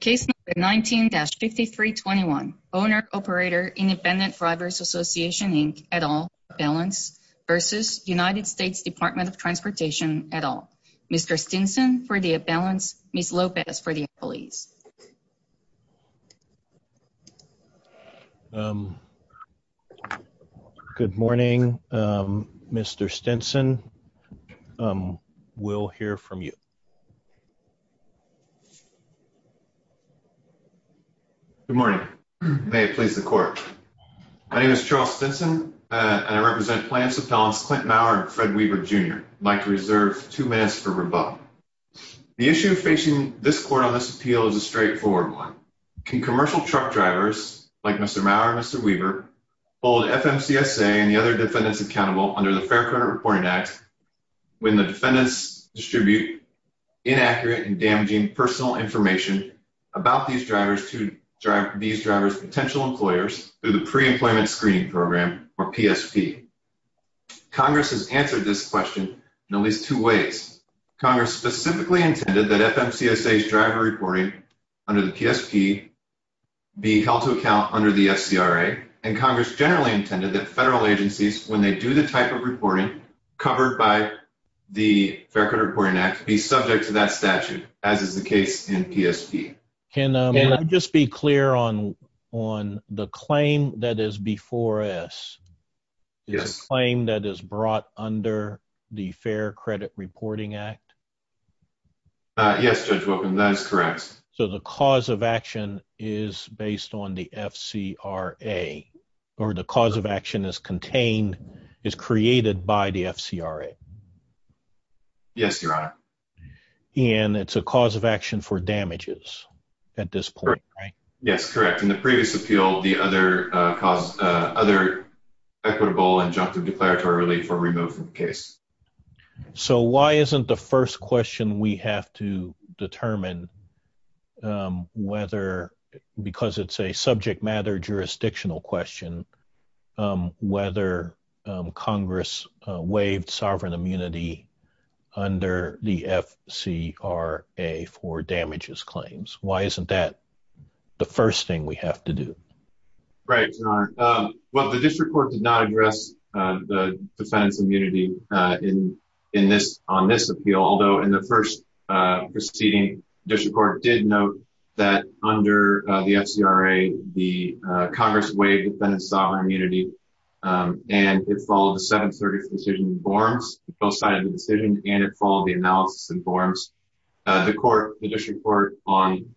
Case number 19-5321, Owner-Operator, Independent Drivers Association, Inc., et al., Abalance v. United States Department of Transportation, et al. Mr. Stinson for the Abalance, Ms. Lopez for the Employees. Good morning, Mr. Stinson. We'll hear from you. Good morning. May it please the Court. My name is Charles Stinson, and I represent plaintiffs' appellants Clint Mower and Fred Weaver Jr. I'd like to reserve two minutes for rebuttal. The issue facing this Court on this appeal is a straightforward one. Can commercial truck drivers, like Mr. Mower and Mr. Weaver, hold FMCSA and the other defendants accountable under the Fair Credit Reporting Act when the defendants distribute inaccurate and damaging personal information about these drivers' potential employers through the Pre-Employment Screening Program, or PSP? Congress has answered this question in at least two ways. Congress specifically intended that FMCSA's driver reporting under the PSP be held to account under the FCRA, and Congress generally intended that federal agencies, when they do the type of reporting covered by the Fair Credit Reporting Act, be subject to that statute, as is the case in PSP. Can I just be clear on the claim that is before us, the claim that is brought under the Fair Credit Reporting Act? Yes, Judge Wilkin, that is correct. So the cause of action is based on the FCRA, or the cause of action is contained, is created by the FCRA? Yes, Your Honor. And it's a cause of action for damages at this point, right? Yes, correct. In the previous appeal, the other equitable injunctive declaratory relief or removal case. So why isn't the first question we have to determine whether, because it's a subject matter jurisdictional question, whether Congress waived sovereign immunity under the FCRA for damages claims? Why isn't that the first thing we have to do? Right, Your Honor. Well, the district court did not address the defendant's immunity on this appeal, although in the first proceeding, the district court did note that under the FCRA, the Congress waived the defendant's sovereign immunity, and it followed the 730th decision in Borms. It both sided the decision, and it followed the analysis in Borms. The district court on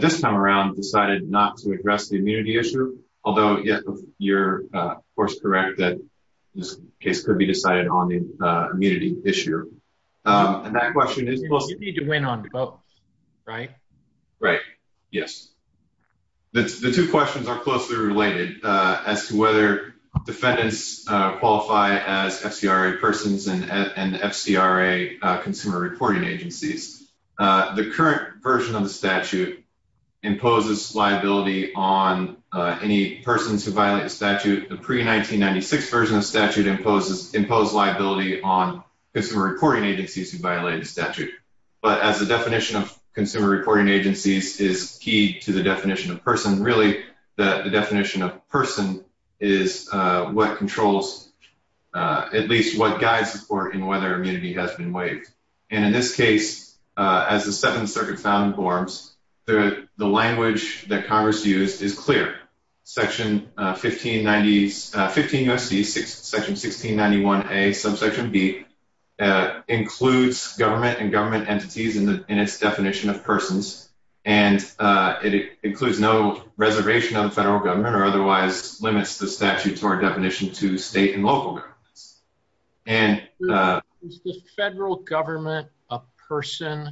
this time around decided not to address the immunity issue, although you're, of course, correct that this case could be decided on the immunity issue. And that question is... You need to win on both, right? Right. Yes. The two questions are closely related as to whether defendants qualify as FCRA persons and FCRA consumer reporting agencies. The current version of the statute imposes liability on any persons who violate the statute. The pre-1996 version of the statute imposed liability on consumer reporting agencies who violated the statute. But as the definition of consumer reporting agencies is key to the definition of person, really the definition of person is what controls, at least what guides support in whether immunity has been waived. And in this case, as the Second Circuit found in Borms, the language that Congress used is clear. Section 1590... 15 U.S.C., section 1691A, subsection B, includes government and government entities in its definition of persons, and it includes no reservation on the federal government or otherwise limits the statute to our definition to state and local governments. Is the federal government a person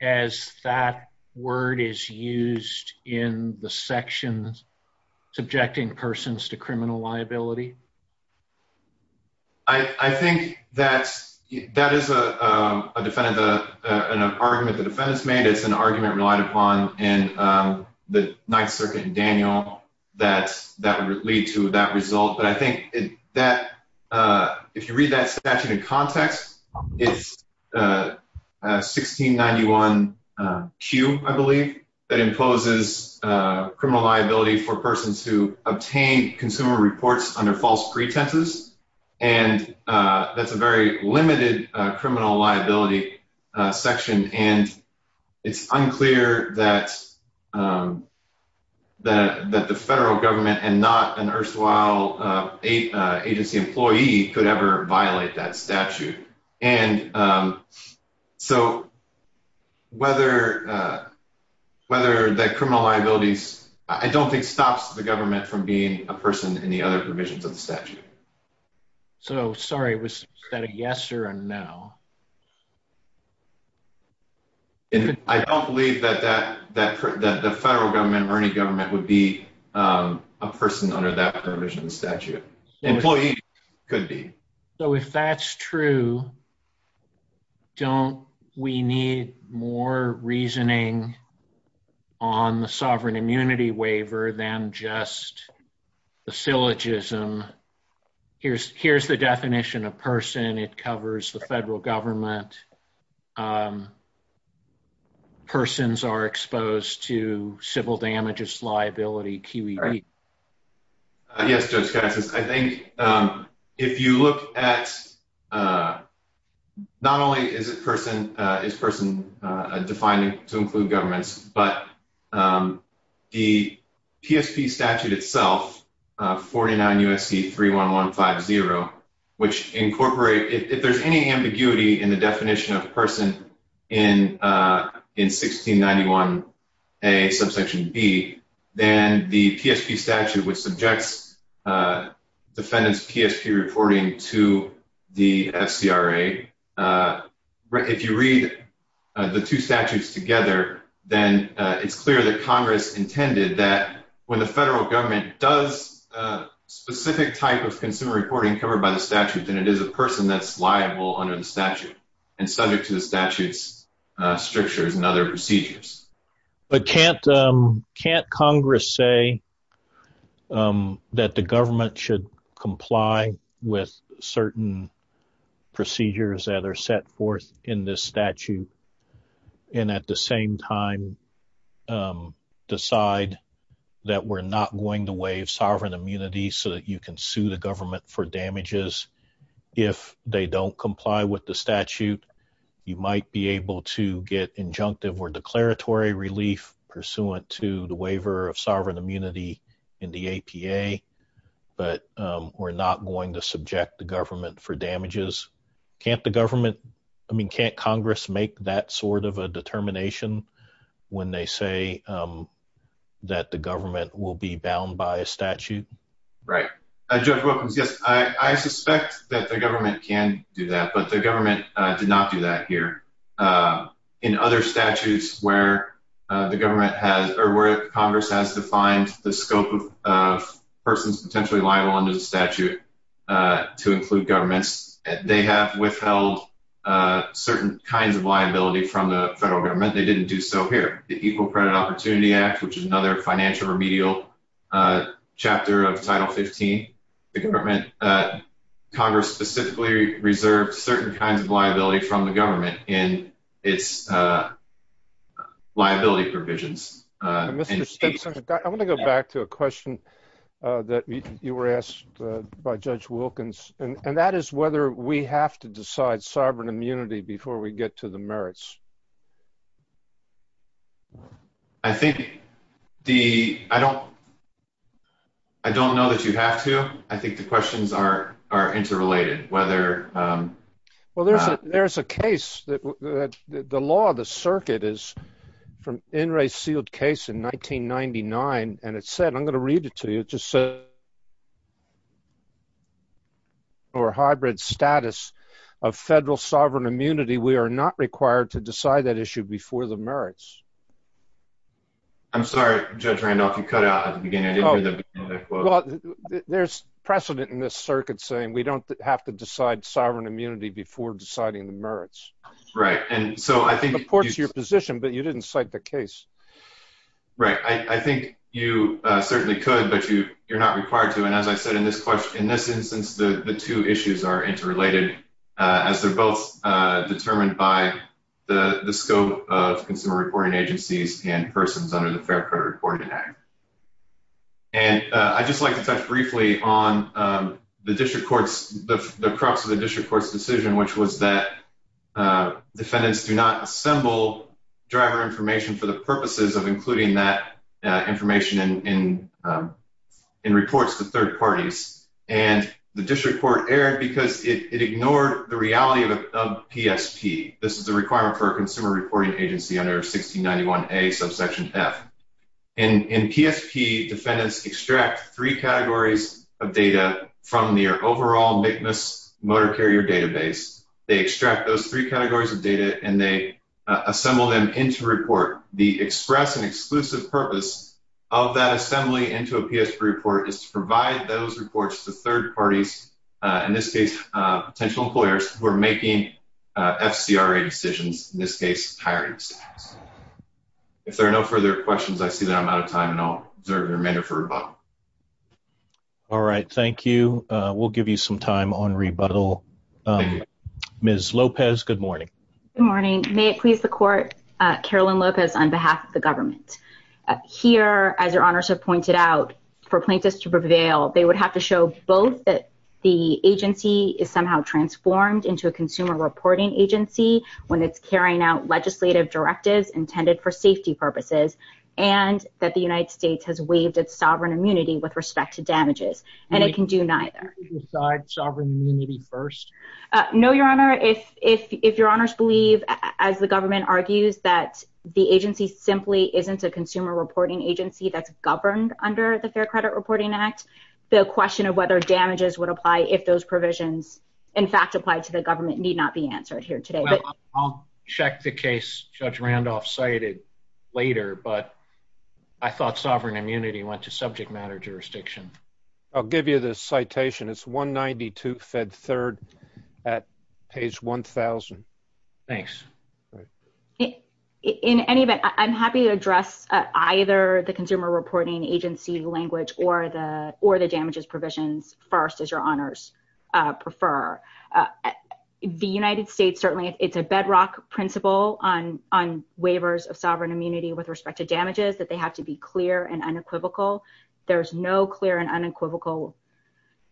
as that word is used in the sections subjecting persons to criminal liability? I think that is an argument the defendants made. It's an argument relied upon in the Ninth Circuit in Daniel that would lead to that result. But I think that if you read that statute in context, it's 1691Q, I believe, that imposes criminal liability for persons who obtain consumer reports under false pretenses, and that's a very limited criminal liability section. And it's unclear that the federal government and not an erstwhile agency employee could ever violate that statute. And so whether that criminal liability... I don't think stops the government from being a person in the other provisions of the statute. So, sorry, was that a yes or a no? I don't believe that the federal government or any government would be a person under that provision of the statute. Employee could be. So if that's true, don't we need more reasoning on the sovereign immunity waiver than just the syllogism? Here's the definition of person. It covers the federal government. Persons are exposed to civil damages liability, QED. Yes, Judge Cassis. I think if you look at... Not only is person defined to include governments, but the PSP statute itself, 49 U.S.C. 31150, which incorporate... If there's any ambiguity in the definition of person in 1691A, subsection B, then the PSP statute, which subjects defendant's PSP reporting to the FCRA, if you read the two statutes together, then it's clear that Congress intended that when the federal government does specific type of consumer reporting covered by the statute, then it is a person that's liable under the statute and subject to the statute's strictures and other procedures. But can't Congress say that the government should comply with certain procedures that we're not going to waive sovereign immunity so that you can sue the government for damages if they don't comply with the statute? You might be able to get injunctive or declaratory relief pursuant to the waiver of sovereign immunity in the APA, but we're not going to subject the government for damages. Can't the government... be bound by a statute? Right. Judge Wilkins, yes. I suspect that the government can do that, but the government did not do that here. In other statutes where the government has... or where Congress has defined the scope of persons potentially liable under the statute to include governments, they have withheld certain kinds of liability from the federal government. They didn't do so here. Under the Equal Credit Opportunity Act, which is another financial remedial chapter of Title 15, the government... Congress specifically reserved certain kinds of liability from the government in its liability provisions. Mr. Stenson, I want to go back to a question that you were asked by Judge Wilkins, and that is whether we have to decide sovereign immunity before we get to the merits. I think the... I don't... I don't know that you have to. I think the questions are interrelated, whether... Well, there's a case that... The law, the circuit is from In re Sealed Case in 1999, and it said... I'm going to read it to you. It just said... or hybrid status of federal sovereign immunity. We are not required to decide that issue before the merits. I'm sorry, Judge Randolph, you cut out at the beginning. I didn't hear the... Well, there's precedent in this circuit saying we don't have to decide sovereign immunity before deciding the merits. Right. And so I think... It supports your position, but you didn't cite the case. Right. I think you certainly could, but you're not required to. And as I said in this question, in this instance, the two issues are interrelated as they're both determined by the scope of consumer reporting agencies and persons under the Fair Credit Reporting Act. And I'd just like to touch briefly on the district court's... The crux of the district court's decision, which was that defendants do not assemble driver information for the purposes of including that information in reports to third parties. And the district court erred because it ignored the reality of PSP. This is a requirement for a consumer reporting agency under 1691A subsection F. In PSP, defendants extract three categories of data from their overall MCMAS motor carrier database. They extract those three categories of data and they assemble them into a report. The express and exclusive purpose of that assembly into a PSP report is to provide those reports to third parties, in this case, potential employers who are making FCRA decisions, in this case, hiring staffs. If there are no further questions, I see that I'm out of time and I'll reserve the remainder for rebuttal. All right. Thank you. We'll give you some time on rebuttal. Ms. Lopez, good morning. Good morning. May it please the court, Carolyn Lopez on behalf of the government. Here, as your honors have pointed out, for plaintiffs to prevail, they would have to show both that the agency is somehow transformed into a consumer reporting agency when it's carrying out legislative directives intended for safety purposes and that the United States has waived its sovereign immunity with respect to damages. And it can do neither. Can we decide sovereign immunity first? No, your honor. Your honor, if your honors believe, as the government argues, that the agency simply isn't a consumer reporting agency that's governed under the Fair Credit Reporting Act, the question of whether damages would apply if those provisions, in fact, applied to the government, need not be answered here today. Well, I'll check the case Judge Randolph cited later, but I thought sovereign immunity went to subject matter jurisdiction. I'll give you the citation. It's 192 Fed 3rd at page 1,000. Thanks. In any event, I'm happy to address either the consumer reporting agency language or the damages provisions first, as your honors prefer. The United States, certainly, it's a bedrock principle on waivers of sovereign immunity with respect to damages, that they have to be clear and unequivocal. There's no clear and unequivocal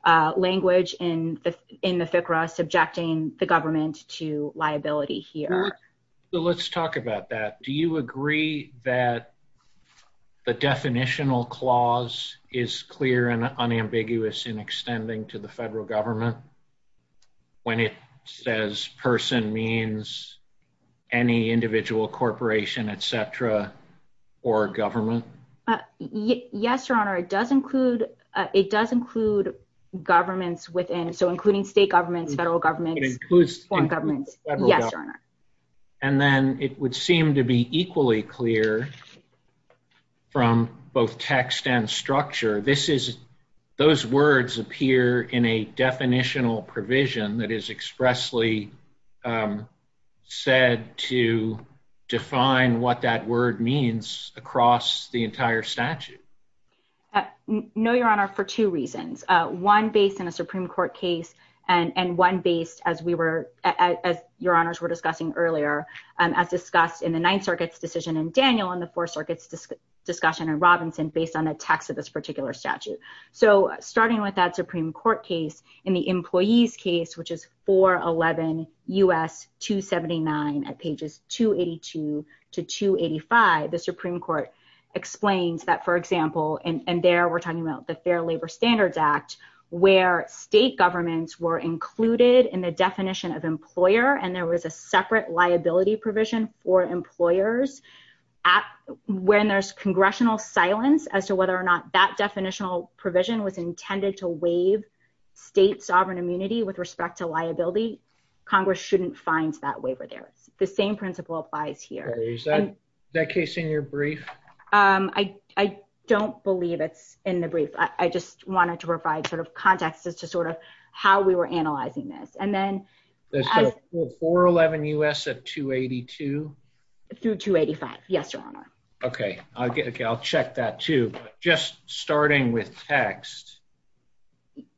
language in the FCRA subjecting the government to liability here. Let's talk about that. Do you agree that the definitional clause is clear and unambiguous in extending to the federal government when it says person means any individual corporation, et cetera, or government? Yes, your honor. It does include governments within, so including state governments, federal governments, foreign governments. Yes, your honor. And then it would seem to be equally clear from both text and structure. This is, those words appear in a definitional provision that is expressly said to define what that word means across the entire statute. No, your honor, for two reasons. One, based in a Supreme Court case, and one based as we were, as your honors were discussing earlier, as discussed in the Ninth Circuit's decision in Daniel and the Fourth Circuit's discussion in Robinson, based on the text of this particular statute. So, starting with that Supreme Court case, in the employee's case, which is 411 U.S. 279 at pages 282 to 285, the Supreme Court explains that, for example, and there we're talking about the Fair Labor Standards Act, where state governments were included in the definition of employer and there was a separate liability provision for employers. When there's congressional silence as to whether or not that definitional provision was intended to waive state sovereign immunity with respect to liability, Congress shouldn't find that waiver there. The same principle applies here. Is that case in your brief? I don't believe it's in the brief. I just wanted to provide sort of context as to sort of how we were analyzing this. And then... 411 U.S. at 282? Through 285, yes, your honor. Okay, I'll check that too. Just starting with text...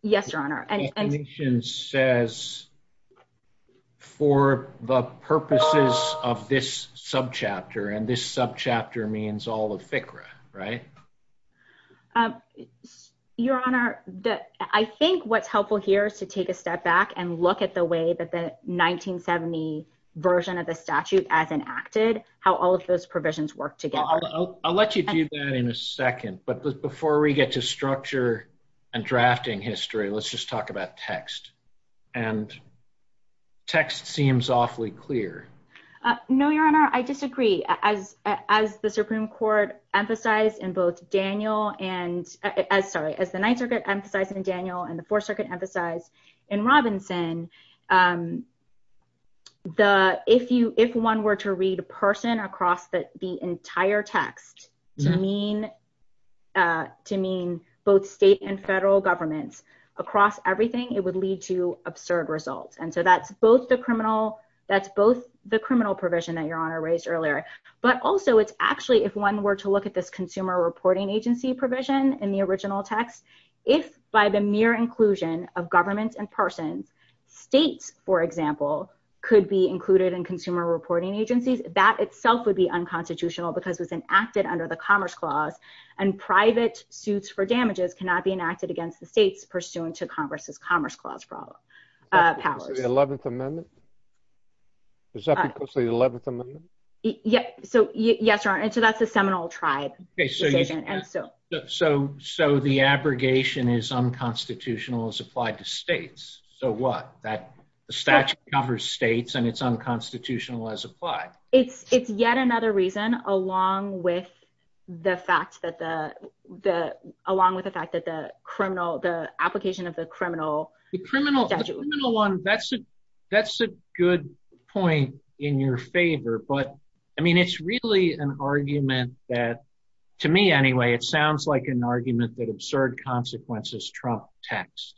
Yes, your honor. The definition says, for the purposes of this subchapter, and this subchapter means all of FCRA, right? Your honor, I think what's helpful here is to take a step back and look at the way that the 1970 version of the statute as enacted, how all of those provisions work together. I'll let you do that in a second. But before we get to structure and drafting history, let's just talk about text. And text seems awfully clear. No, your honor, I disagree. As the Supreme Court emphasized in both Daniel and... Sorry, as the Ninth Circuit emphasized in Daniel and the Fourth Circuit emphasized in your text, to mean both state and federal governments across everything, it would lead to absurd results. And so that's both the criminal provision that your honor raised earlier, but also it's actually, if one were to look at this consumer reporting agency provision in the original text, if by the mere inclusion of governments and persons, states, for example, could be included in consumer reporting agencies, that itself would be unconstitutional because it was enacted under the Commerce Clause and private suits for damages cannot be enacted against the states pursuant to Congress's Commerce Clause powers. Is that because of the 11th Amendment? Is that because of the 11th Amendment? Yes, your honor. And so that's a seminal tribe decision. So the abrogation is unconstitutional as applied to states. So what? The statute covers states and it's unconstitutional as applied. It's yet another reason, along with the fact that the criminal, the application of the criminal statute. The criminal one, that's a good point in your favor. But I mean, it's really an argument that, to me anyway, it sounds like an argument that absurd consequences trump text.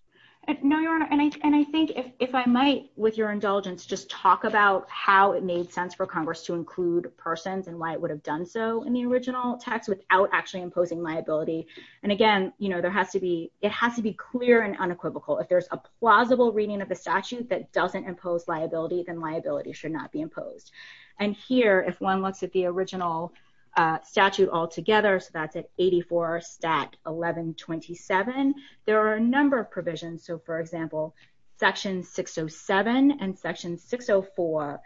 No, your honor. And I think if I might, with your indulgence, just talk about how it made sense for Congress to include persons and why it would have done so in the original text without actually imposing liability. And again, you know, there has to be, it has to be clear and unequivocal. If there's a plausible reading of the statute that doesn't impose liability, then liability should not be imposed. And here, if one looks at the original statute altogether, so that's at 84 stat 1127, there are a number of provisions. So for example, section 607 and section 604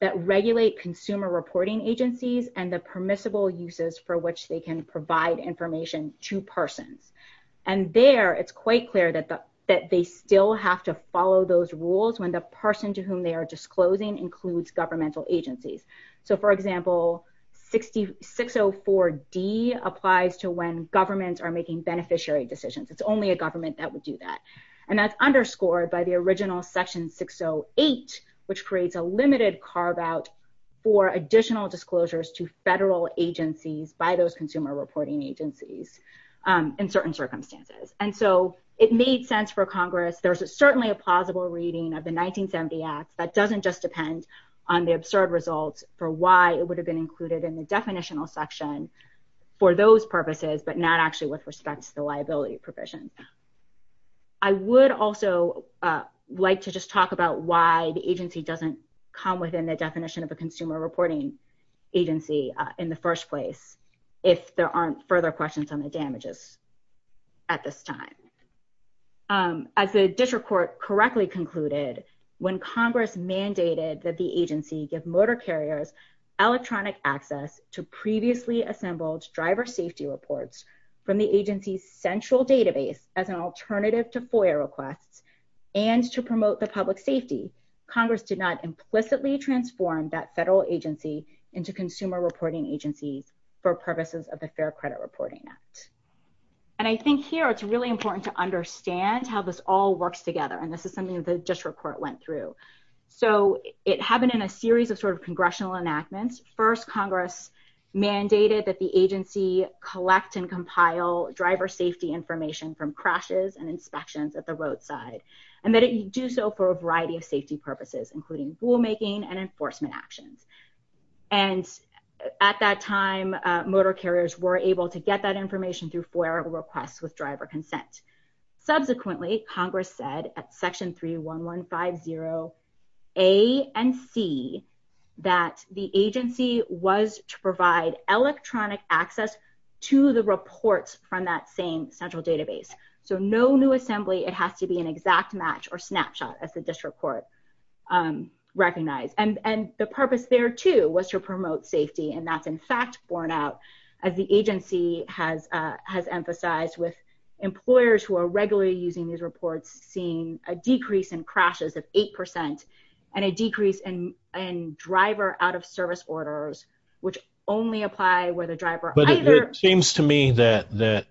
that regulate consumer reporting agencies and the permissible uses for which they can provide information to persons. And there, it's quite clear that they still have to follow those rules when the person to whom they are disclosing includes governmental agencies. So for example, 604D applies to when governments are making beneficiary decisions. It's only a government that would do that. And that's underscored by the original section 608, which creates a limited carve out for additional disclosures to federal agencies by those consumer reporting agencies in certain circumstances. And so it made sense for Congress. There's certainly a plausible reading of the 1970 Act that doesn't just depend on the absurd results for why it would have been included in the definitional section for those provisions. I would also like to just talk about why the agency doesn't come within the definition of a consumer reporting agency in the first place if there aren't further questions on the damages at this time. As the district court correctly concluded, when Congress mandated that the agency give motor carriers electronic access to previously assembled driver safety reports from the agency's central database as an alternative to FOIA requests and to promote the public safety, Congress did not implicitly transform that federal agency into consumer reporting agencies for purposes of the Fair Credit Reporting Act. And I think here it's really important to understand how this all works together. And this is something that the district court went through. So it happened in a series of sort of congressional enactments. First, Congress mandated that the agency collect and compile driver safety information from crashes and inspections at the roadside and that it do so for a variety of safety purposes, including rulemaking and enforcement actions. And at that time, motor carriers were able to get that information through FOIA requests with driver consent. Subsequently, Congress said at Section 31150A and C that the agency was to provide electronic access to the reports from that same central database. So no new assembly. It has to be an exact match or snapshot as the district court recognized. And the purpose there, too, was to promote safety. And that's, in fact, borne out as the agency has emphasized with employers who are regularly using these reports seeing a decrease in crashes of 8% and a decrease in driver out-of-service orders, which only apply where the driver either... But it seems to me that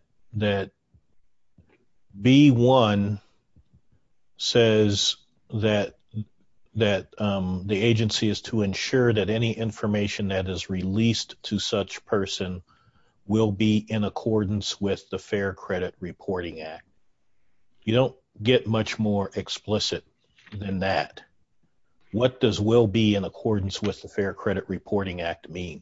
B1 says that the agency is to ensure that any information that is released to such person will be in accordance with the Fair Credit Reporting Act. You don't get much more explicit than that. What does will be in accordance with the Fair Credit Reporting Act mean?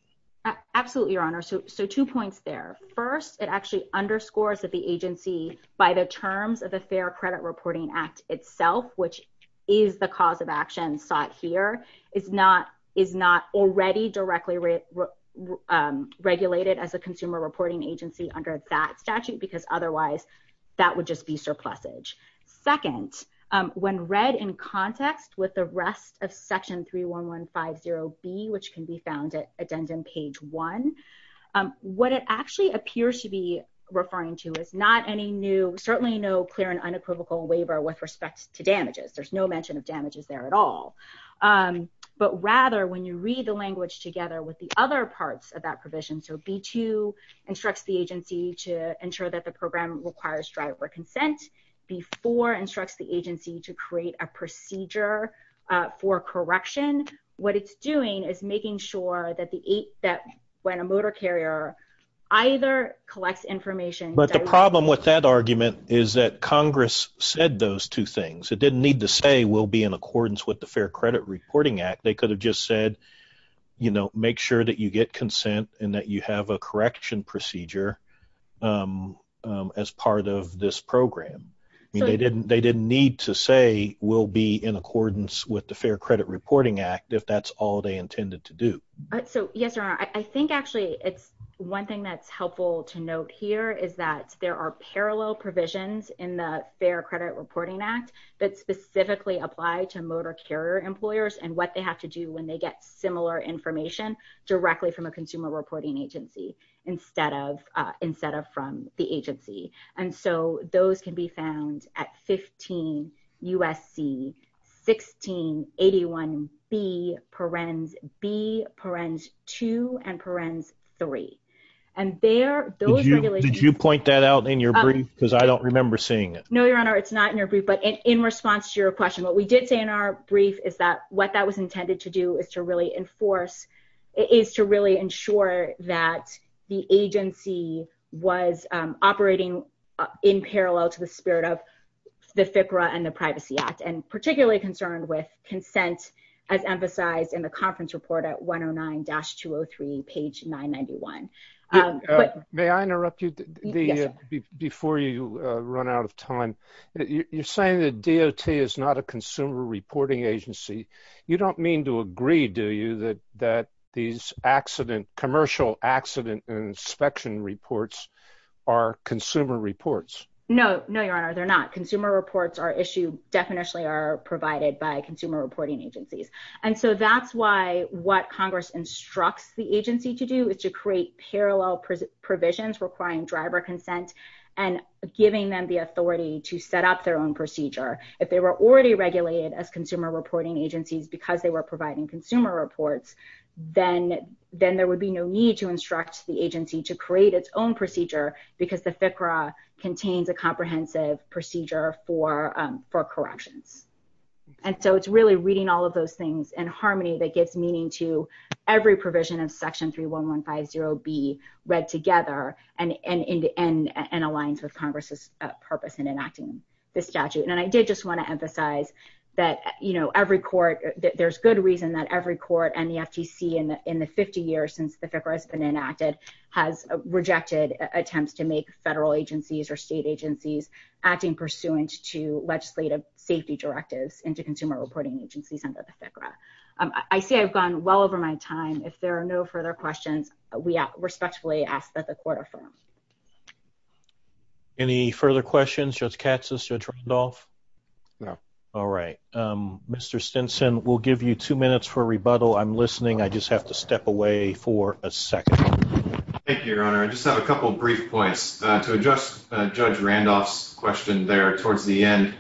Absolutely, Your Honor. So two points there. First, it actually underscores that the agency, by the terms of the Fair Credit Reporting Act itself, which is the cause of action sought here, is not already directly regulated as a consumer reporting agency under that statute because otherwise that would just be surplusage. Second, when read in context with the rest of Section 31150B, which can be found at addendum page one, what it actually appears to be referring to is not any new... with respect to damages. There's no mention of damages there at all. But rather, when you read the language together with the other parts of that provision, so B2 instructs the agency to ensure that the program requires driver consent before instructs the agency to create a procedure for correction. What it's doing is making sure that when a motor carrier either collects information... It didn't need to say will be in accordance with the Fair Credit Reporting Act. They could have just said, make sure that you get consent and that you have a correction procedure as part of this program. They didn't need to say will be in accordance with the Fair Credit Reporting Act if that's all they intended to do. Yes, Your Honor. I think actually it's one thing that's helpful to note here is that there are parallel provisions in the Fair Credit Reporting Act that specifically apply to motor carrier employers and what they have to do when they get similar information directly from a consumer reporting agency instead of from the agency. And so those can be found at 15 USC 1681B, parens B, parens 2, and parens 3. And those regulations... I don't remember seeing it. No, Your Honor. It's not in your brief. But in response to your question, what we did say in our brief is that what that was intended to do is to really enforce, is to really ensure that the agency was operating in parallel to the spirit of the FCRA and the Privacy Act and particularly concerned with consent as emphasized in the conference report at 109-203 page 991. May I interrupt you before you run out of time? You're saying that DOT is not a consumer reporting agency. You don't mean to agree, do you, that these commercial accident and inspection reports are consumer reports? No. No, Your Honor. They're not. Consumer reports are issued, definitely are provided by consumer reporting agencies. And so that's why what Congress instructs the agency to do is to create parallel provisions requiring driver consent and giving them the authority to set up their own procedure. If they were already regulated as consumer reporting agencies because they were providing consumer reports, then there would be no need to instruct the agency to create its own procedure because the FCRA contains a comprehensive procedure for corrections. And so it's really reading all of those things in harmony that gives meaning to every provision of Section 31150B read together and aligns with Congress's purpose in enacting this statute. And I did just want to emphasize that, you know, every court, there's good reason that every court and the FTC in the 50 years since the FCRA has been enacted has rejected attempts to make federal agencies or state agencies acting pursuant to legislative safety directives into consumer reporting agencies under the FCRA. I say I've gone well over my time. If there are no further questions, we respectfully ask that the court affirm. Any further questions? Judge Katz? Judge Randolph? No. All right. Mr. Stinson, we'll give you two minutes for rebuttal. I'm listening. I just have to step away for a second. Thank you, Your Honor. I just have a couple of brief points to address Judge Randolph's question there towards the end.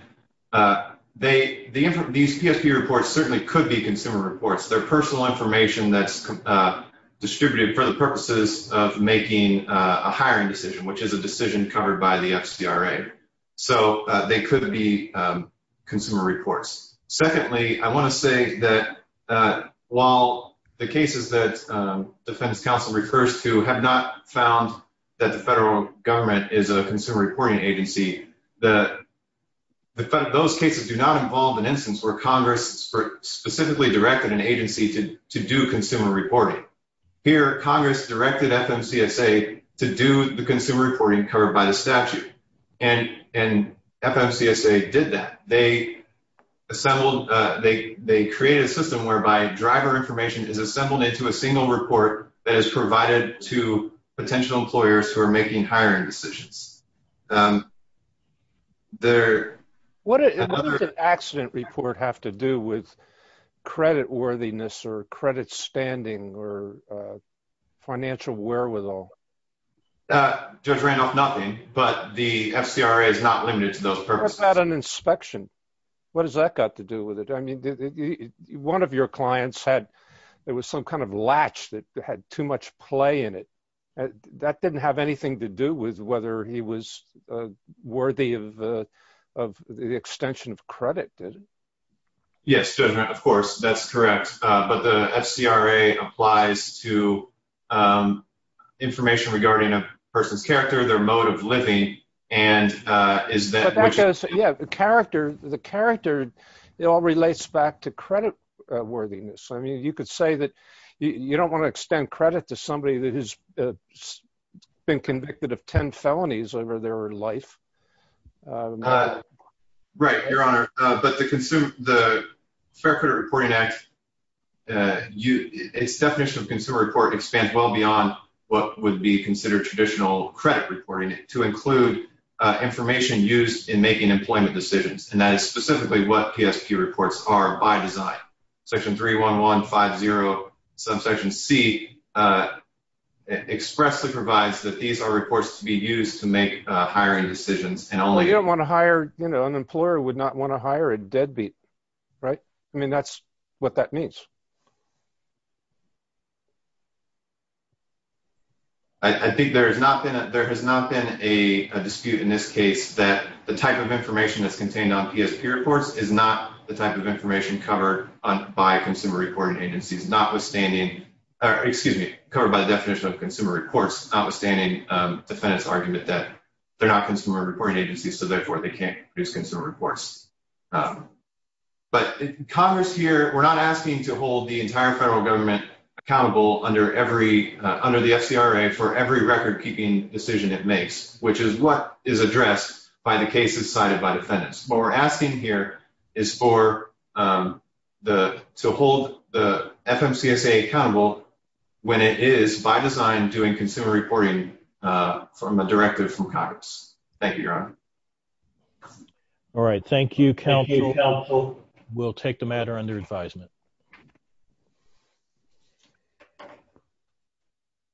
These PSP reports certainly could be consumer reports. They're personal information that's distributed for the purposes of making a hiring decision, which is a decision covered by the FCRA. So they could be consumer reports. Secondly, I want to say that while the cases that defense counsel refers to have not found that the federal government is a consumer reporting agency, those cases do not involve an instance where Congress specifically directed an agency to do consumer reporting. Here, Congress directed FMCSA to do the consumer reporting covered by the statute, and FMCSA did that. They created a system whereby driver information is assembled into a single report that is for individual employers who are making hiring decisions. What does an accident report have to do with credit worthiness or credit standing or financial wherewithal? Judge Randolph, nothing, but the FCRA is not limited to those purposes. What about an inspection? What does that got to do with it? I mean, one of your clients had, there was some kind of latch that had too much play in it. That didn't have anything to do with whether he was worthy of the extension of credit, did it? Yes, Judge Randolph, of course, that's correct. But the FCRA applies to information regarding a person's character, their mode of living, and is that- Yeah, the character, it all relates back to credit worthiness. I mean, you could say that you don't want to extend credit to somebody that has been convicted of 10 felonies over their life. Right, Your Honor. But the Fair Credit Reporting Act, its definition of consumer report expands well beyond what would be considered traditional credit reporting to include information used in making employment decisions, and that is specifically what PSP reports are by design. Section 31150 subsection C expressly provides that these are reports to be used to make hiring decisions and only- You don't want to hire, you know, an employer would not want to hire a deadbeat, right? I mean, that's what that means. I think there has not been a dispute in this case that the type of information that's covered by consumer reporting agencies notwithstanding- Excuse me. Covered by the definition of consumer reports notwithstanding defendant's argument that they're not consumer reporting agencies, so therefore they can't produce consumer reports. But Congress here, we're not asking to hold the entire federal government accountable under the FCRA for every record-keeping decision it makes, which is what is addressed by the cases cited by defendants. What we're asking here is for the- to hold the FMCSA accountable when it is, by design, doing consumer reporting from a directive from Congress. Thank you, Your Honor. All right. Thank you, counsel. Thank you, counsel. We'll take the matter under advisement.